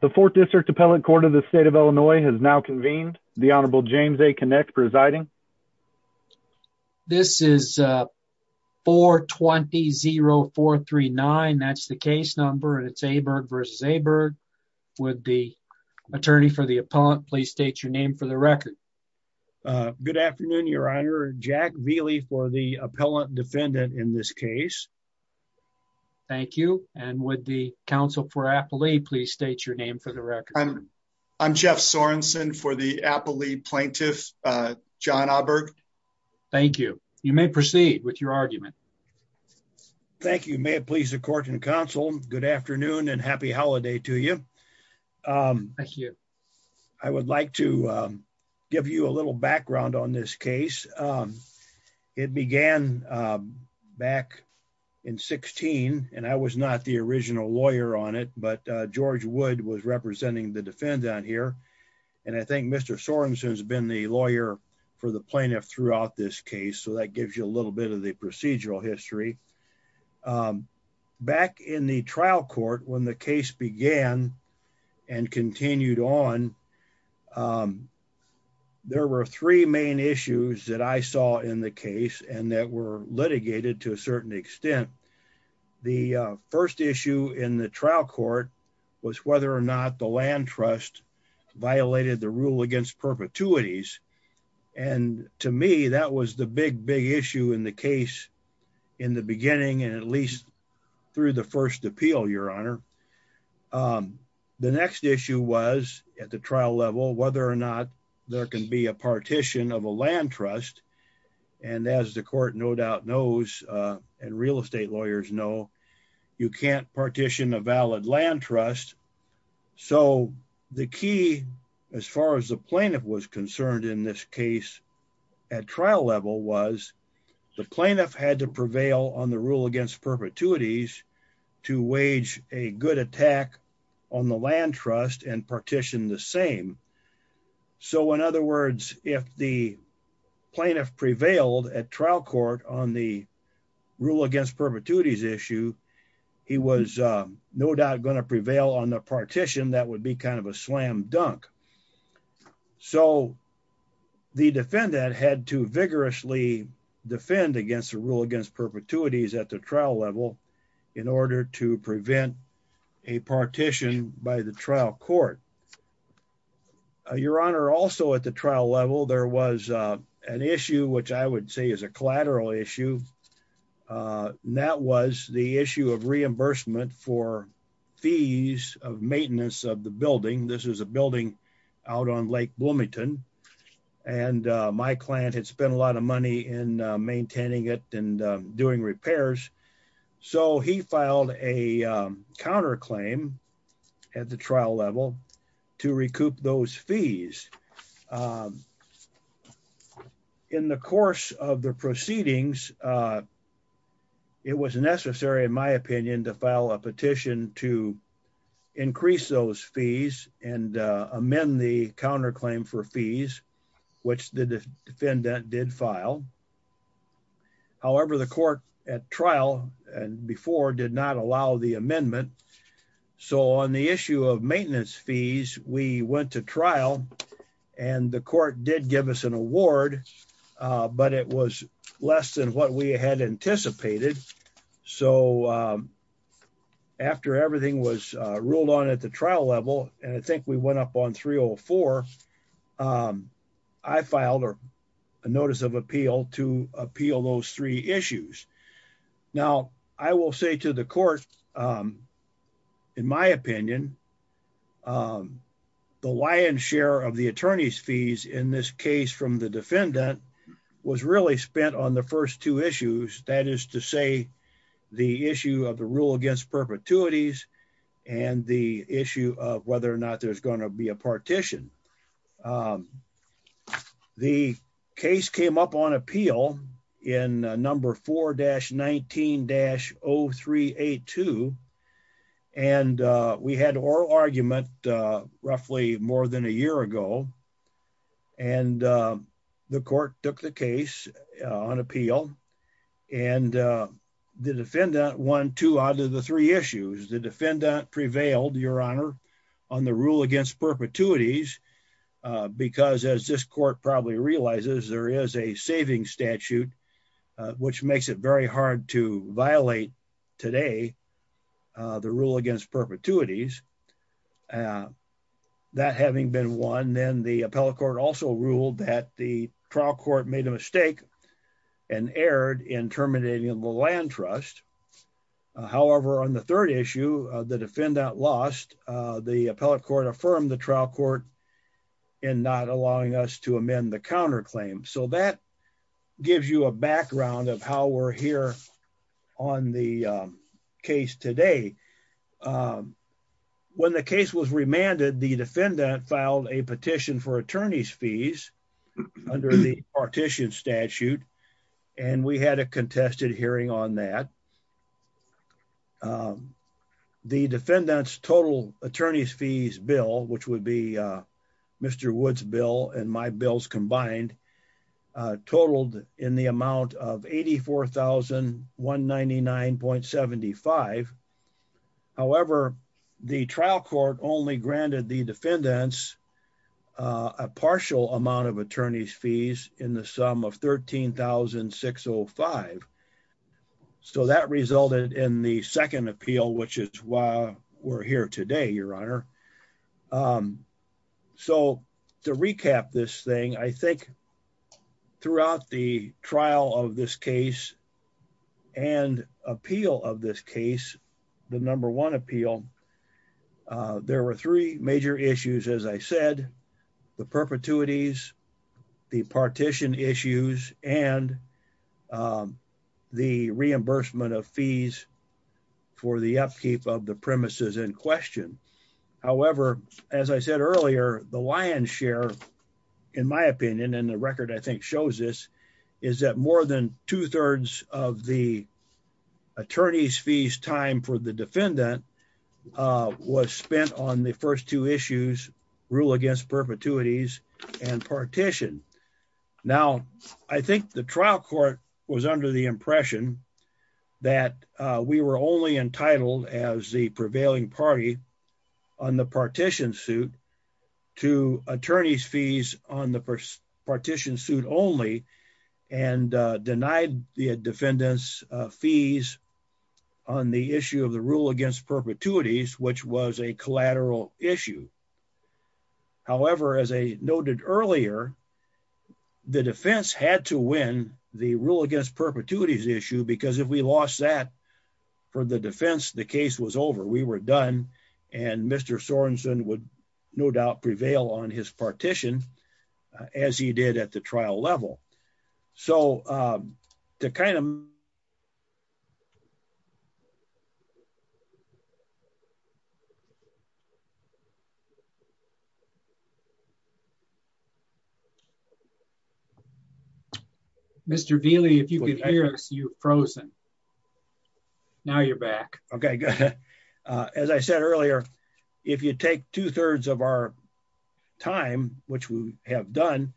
The 4th District Appellant Court of the State of Illinois has now convened. The Honorable James A. Kinect presiding. This is 420-0439. That's the case number and it's Aaberg v. Aaberg. Would the attorney for the appellant please state your name for the record? Good afternoon, your honor. Jack Vealey for the appellant defendant in this case. Thank you. And would the counsel for Appellee please state your name for the record? I'm Jeff Sorensen for the Appellee Plaintiff, John Aaberg. Thank you. You may proceed with your argument. Thank you. May it please the court and counsel, good afternoon and happy holiday to you. Thank you. I would like to give you a little background on this case. It began back in 16 and I was not the original lawyer on it, but George Wood was representing the defendant here. And I think Mr. Sorensen has been the lawyer for the plaintiff throughout this case. So that gives you a little bit of the procedural history. Back in the trial court, when the case began and continued on, there were three main issues that I saw in the case and that were important. The first issue in the trial court was whether or not the land trust violated the rule against perpetuities. And to me, that was the big, big issue in the case in the beginning, and at least through the first appeal, your honor. The next issue was at the trial level, whether or not there can be a partition of a land trust. And as the court no doubt knows and real estate lawyers know, you can't partition a valid land trust. So the key, as far as the plaintiff was concerned in this case at trial level was the plaintiff had to prevail on the rule against perpetuities to wage a good attack on the land trust and partition the same. So in other words, if the plaintiff prevailed at trial court on the rule against perpetuities issue, he was no doubt going to prevail on the partition. That would be kind of a slam dunk. So the defendant had to vigorously defend against the rule against perpetuities at the trial level in order to prevent a partition by the trial court. Your honor, also at the trial level, there was an issue which I would say is a collateral issue. That was the issue of reimbursement for fees of maintenance of the building. This is a building out on Lake Bloomington and my client had spent a lot of money in maintaining it and doing repairs. So he filed a counterclaim at the trial level to recoup those fees. In the course of the proceedings, it was necessary in my opinion to file a petition to amend the counterclaim for fees, which the defendant did file. However, the court at trial and before did not allow the amendment. So on the issue of maintenance fees, we went to trial and the court did give us an award, but it was less than what we had anticipated. So after everything was ruled on at the trial level, and I think we went up on 304, I filed a notice of appeal to appeal those three issues. Now I will say to the court, in my opinion, the lion's share of the attorney's fees in this case from the defendant was really spent on the first two issues. That is to say the issue of the rule against perpetuities and the issue of whether or not there's going to be a partition. The case came up on appeal in number 4-19-0382 and we had oral argument roughly more than a year ago and the court took the case on appeal and the defendant won two out of the three issues. The defendant prevailed, your honor, on the rule against perpetuities because as this court probably realizes there is a savings statute which makes it very hard to violate today the rule against perpetuities. That having been won, then the appellate court also ruled that the trial court made a mistake and erred in terminating the land trust. However, on the third issue, the defendant lost. The appellate court affirmed the trial court in not allowing us to amend the counterclaim. So that gives you a background of how we're here on the case today. When the case was remanded, the defendant filed a petition for attorney's fees under the partition statute and we had a contested hearing on that. The defendant's total attorney's fees bill which would be Mr. Wood's and my bills combined totaled in the amount of $84,199.75. However, the trial court only granted the defendants a partial amount of attorney's fees in the sum of $13,605. So that resulted in the second appeal which is why we're here today, your honor. So to recap this thing, I think throughout the trial of this case and appeal of this case, the number one appeal, there were three major issues as I said. The perpetuities, the partition issues, and the reimbursement of fees for the upkeep of the premises in question. However, as I said earlier, the lion's share in my opinion and the record I think shows this is that more than two-thirds of the attorney's fees time for the defendant was spent on the first two issues, rule against perpetuities and partition. Now, I think the trial court was under the impression that we were only entitled as the prevailing party on the partition suit to attorney's fees on the partition suit only and denied the defendants fees on the issue of the rule perpetuities which was a collateral issue. However, as I noted earlier, the defense had to win the rule against perpetuities issue because if we lost that for the defense, the case was over. We were done and Mr. Sorensen would no doubt prevail on his partition as he did at the trial level. So to kind of Mr. Vealey, if you could hear us, you're frozen. Now you're back. Okay. As I said earlier, if you take two-thirds of our time which we have done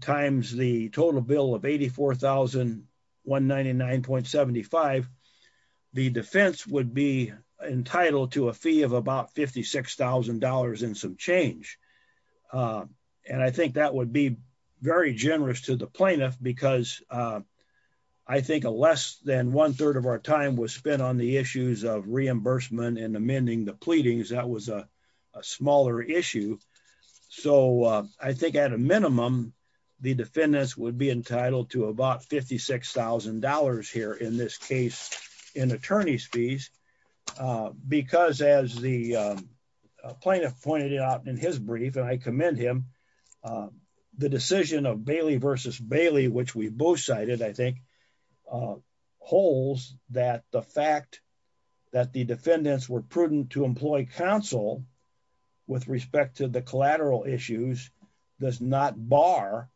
times the total bill of $84,199.75, the defense would be entitled to a fee of about $56,000 and some change. I think that would be very generous to the plaintiff because I think less than one-third of our time was spent on the issues of reimbursement and amending the pleadings. That was a smaller issue. So I think at a minimum, the defendants would be entitled to about $56,000 here in this case in attorney's fees because as the plaintiff pointed out in his brief and I that the fact that the defendants were prudent to employ counsel with respect to the collateral issues does not bar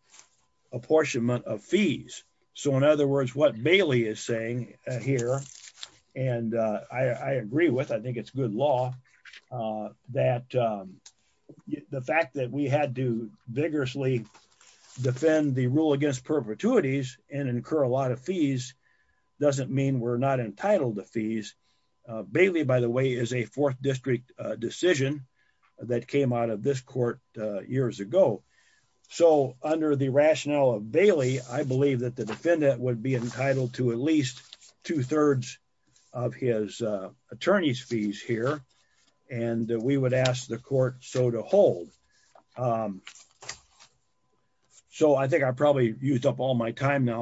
apportionment of fees. So in other words, what Bailey is saying here and I agree with, I think it's good law that the fact that we had to vigorously defend the rule against perpetuities and incur a lot of fees doesn't mean we're not entitled to fees. Bailey, by the way, is a fourth district decision that came out of this court years ago. So under the rationale of Bailey, I believe that the defendant would be entitled to at least two-thirds of his time now.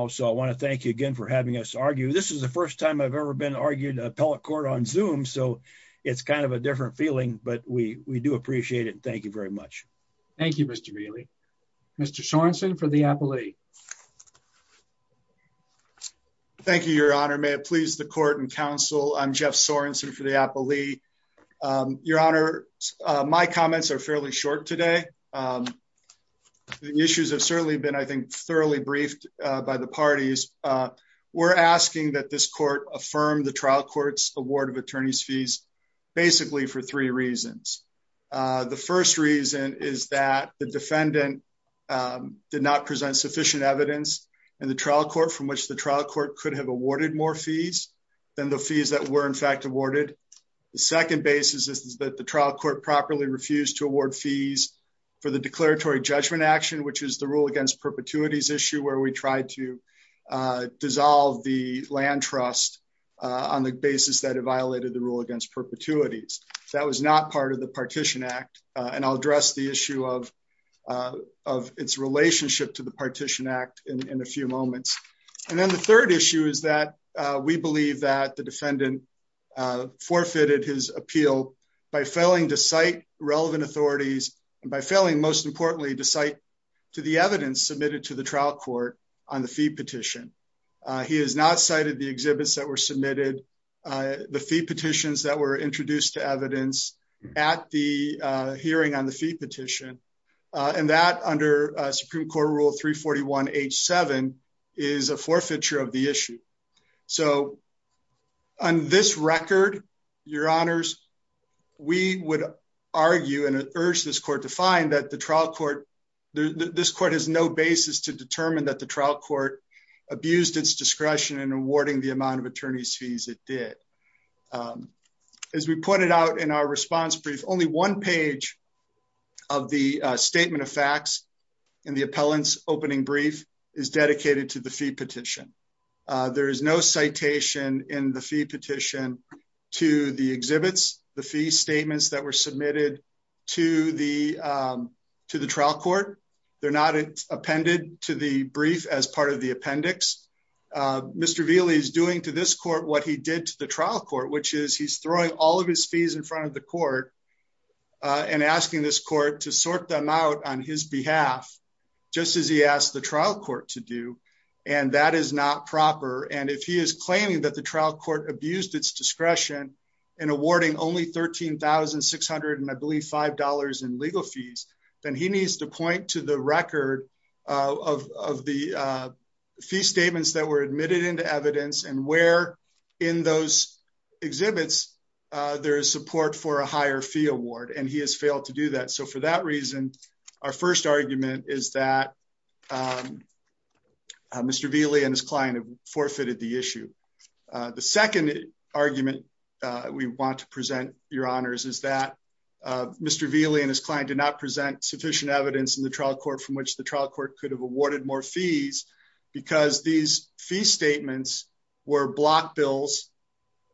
So I want to thank you again for having us argue. This is the first time I've ever been argued appellate court on zoom. So it's kind of a different feeling, but we, we do appreciate it. Thank you very much. Thank you, Mr. Bailey, Mr. Sorenson for the appellee. Thank you, your honor. May it please the court and counsel. I'm Jeff Sorenson for the appellee. Your honor. Uh, my comments are fairly short today. Um, the issues have certainly been, I think thoroughly briefed, uh, by the parties. Uh, we're asking that this court affirm the trial court's award of attorney's fees basically for three reasons. Uh, the first reason is that the defendant, um, did not present sufficient evidence and the trial court from which the trial court could have awarded more fees than the fees that were in fact awarded. The second basis is that the trial court properly refused to award fees for the declaratory judgment action, which is the rule against perpetuities issue where we tried to, uh, dissolve the land trust, uh, on the basis that it violated the rule against perpetuities. That was not part of the partition act. Uh, and I'll address the issue of, uh, of its relationship to the partition act in a few moments. And then the third issue is that, uh, we believe that the defendant, uh, forfeited his appeal by failing to cite relevant authorities and by failing most importantly to cite to the evidence submitted to the trial court on the fee petition. Uh, he has not cited the exhibits that were submitted, uh, the fee petitions that were introduced to evidence at the hearing on the fee petition. Uh, and that under Supreme court rule 3 41 H seven is a forfeiture of the issue. So on this record, your honors, we would argue and urge this court to find that the trial court, this court has no basis to determine that the trial court abused its discretion in awarding the amount of attorneys fees it did. Um, as we pointed out in our response brief, only one page of the statement of facts and the appellants opening brief is citation in the fee petition to the exhibits, the fee statements that were submitted to the, um, to the trial court. They're not appended to the brief as part of the appendix. Uh, Mr. Vili is doing to this court what he did to the trial court, which is he's throwing all of his fees in front of the court, uh, and asking this court to sort them out on his behalf, just as he asked the trial court to do. And that is not proper. And if he is claiming that the trial court abused its discretion and awarding only 13,600 and I believe $5 in legal fees, then he needs to point to the record of the fee statements that were admitted into evidence and where in those exhibits there is support for a higher fee award. And he has failed to do that. So for that reason, our first argument is that, um, Mr. Vili and his client have forfeited the issue. Uh, the second argument, uh, we want to present your honors is that, uh, Mr. Vili and his client did not present sufficient evidence in the trial court from which the trial court could have awarded more fees because these fee statements were block bills.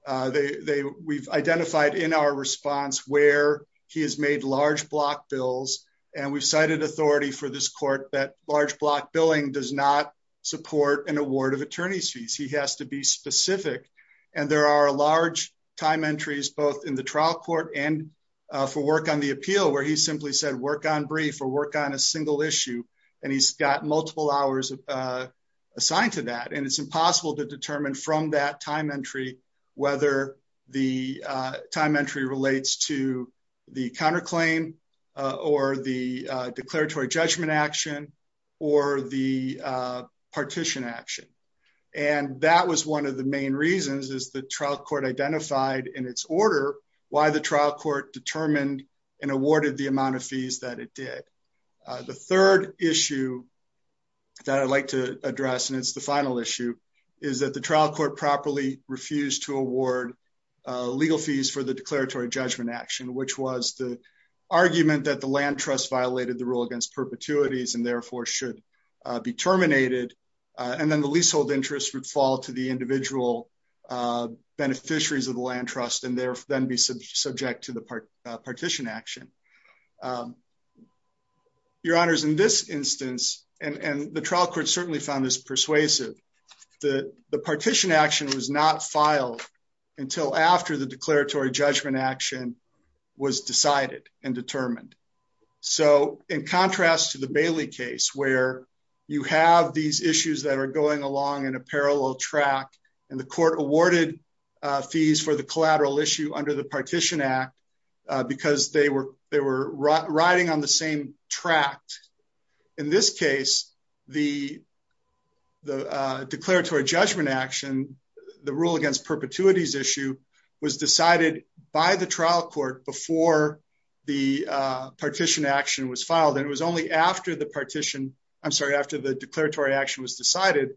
Uh, they, they, we've identified in our response where he has made large block bills and we've cited authority for this court that large block billing does not support an award of attorney's fees. He has to be specific. And there are large time entries, both in the trial court and, uh, for work on the appeal where he simply said, work on brief or work on a single issue. And he's got multiple hours, uh, assigned to that. And it's impossible to determine from that time entry, whether the, uh, time entry relates to the counterclaim, uh, or the, uh, declaratory judgment action or the, uh, partition action. And that was one of the main reasons is the trial court identified in its order, why the trial court determined and awarded the amount of fees that it did. Uh, the third issue that I'd like to address, and it's the final issue is that the trial court properly refused to award, uh, legal fees for the declaratory judgment action, which was the argument that the land trust violated the rule against perpetuities and therefore should, uh, be terminated. Uh, and then the leasehold interest would fall to the individual, uh, beneficiaries of the land trust and there then be subject to the partition action. Um, your honors in this instance, and, and the trial court certainly found this persuasive. The, the partition action was not filed until after the declaratory judgment action was decided and determined. So in contrast to the Bailey case, where you have these issues that are going along in a parallel track and the court awarded, uh, fees for the collateral issue under the partition act, uh, because they were, they were riding on the same track. In this case, the, the, uh, declaratory judgment action, the rule against perpetuities issue was decided by the trial court before the, uh, partition action was filed. And it was only after the partition, I'm sorry, after the declaratory action was decided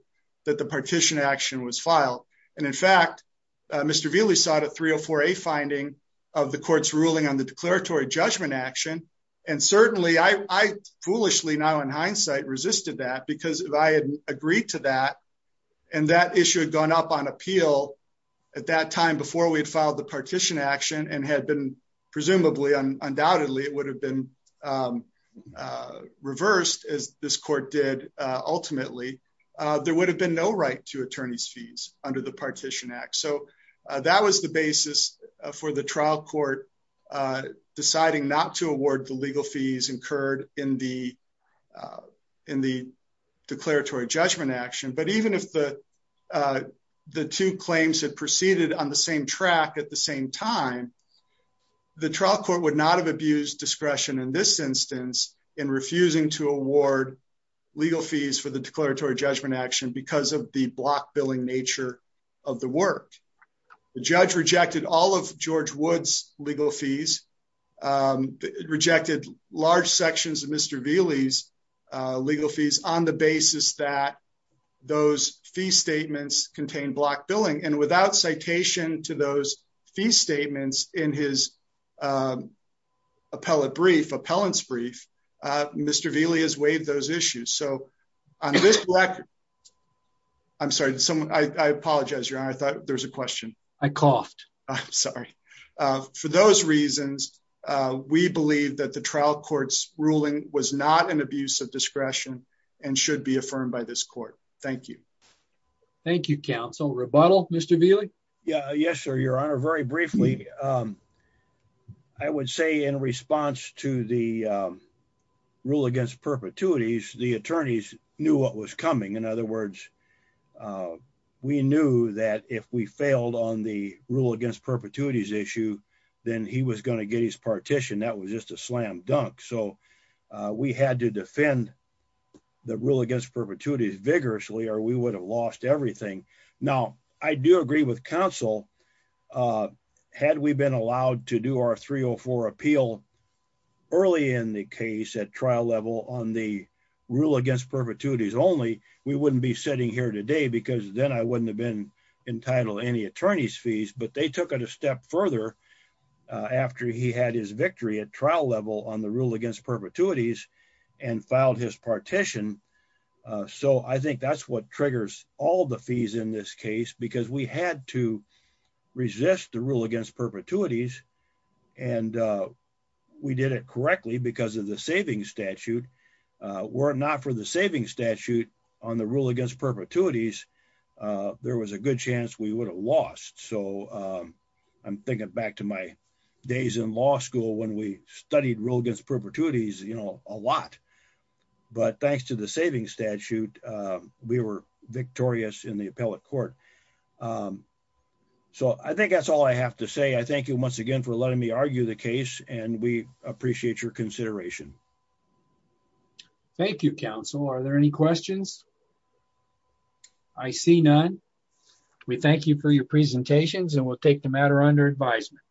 that the partition action was filed. And in fact, uh, Mr. Bailey sought a three or four, a finding of the court's ruling on the declaratory judgment action. And certainly I, I foolishly now in hindsight resisted that because if I had agreed to that and that issue had gone up on appeal at that time before we had filed the partition action and had been presumably undoubtedly it would have been, um, uh, reversed as this court did, uh, ultimately, uh, there would have been no right to attorney's fees under the partition act. So, uh, that was the basis for the trial court, uh, deciding not to award the legal fees incurred in the, uh, in the declaratory judgment action. But even if the, uh, the two claims had proceeded on the same track at the same time, the trial court would not have abused discretion in this instance in refusing to award legal fees for the declaratory judgment action because of the block billing nature of the work. The judge rejected all of George Wood's legal fees, um, rejected large sections of Mr. Bailey's, uh, legal fees on the basis that those fee statements contain block billing and without citation to those fee statements in his, um, appellate brief, appellant's brief, uh, Mr Bailey has waived those issues. So on this record, I'm sorry, someone, I apologize. Your honor. I thought there's a question. I coughed. I'm sorry. Uh, for those reasons, uh, we believe that the trial court's ruling was not an abuse of discretion and should be affirmed by this court. Thank you. Thank you. Council rebuttal. Mr Bailey. Yeah. Yes, sir. Your honor. Very briefly. Um, I would say in response to the, um, rule against perpetuities, the attorneys knew what was coming. In other words, uh, we knew that if we failed on the rule against perpetuities issue, then he was going to get his partition. That was just a slam dunk. So, uh, we had to defend the rule against perpetuities vigorously, or we would have lost everything. Now I do agree with council, uh, had we been allowed to do our three Oh four appeal early in the case at trial level on the rule against perpetuities only we wouldn't be sitting here today because then I wouldn't have been entitled any attorney's fees, but they took it a step further, uh, after he had his victory at trial level on the rule against perpetuities and filed his partition. Uh, so I think that's what triggers all the fees in this case, because we had to resist the rule against perpetuities and, uh, we did it correctly because of the saving statute, uh, were not for the saving statute on the rule against perpetuities. Uh, there was a good chance we would have lost. So, um, I'm thinking back to my days in law school when we studied rule against perpetuities, you know, a lot, but thanks to the saving statute, uh, we were victorious in the appellate court. Um, so I think that's all I have to say. I thank you once again for letting me argue the case and we appreciate your consideration. Thank you. Council. Are there any questions? I see none. We thank you for your presentations and we'll take the matter under advisement.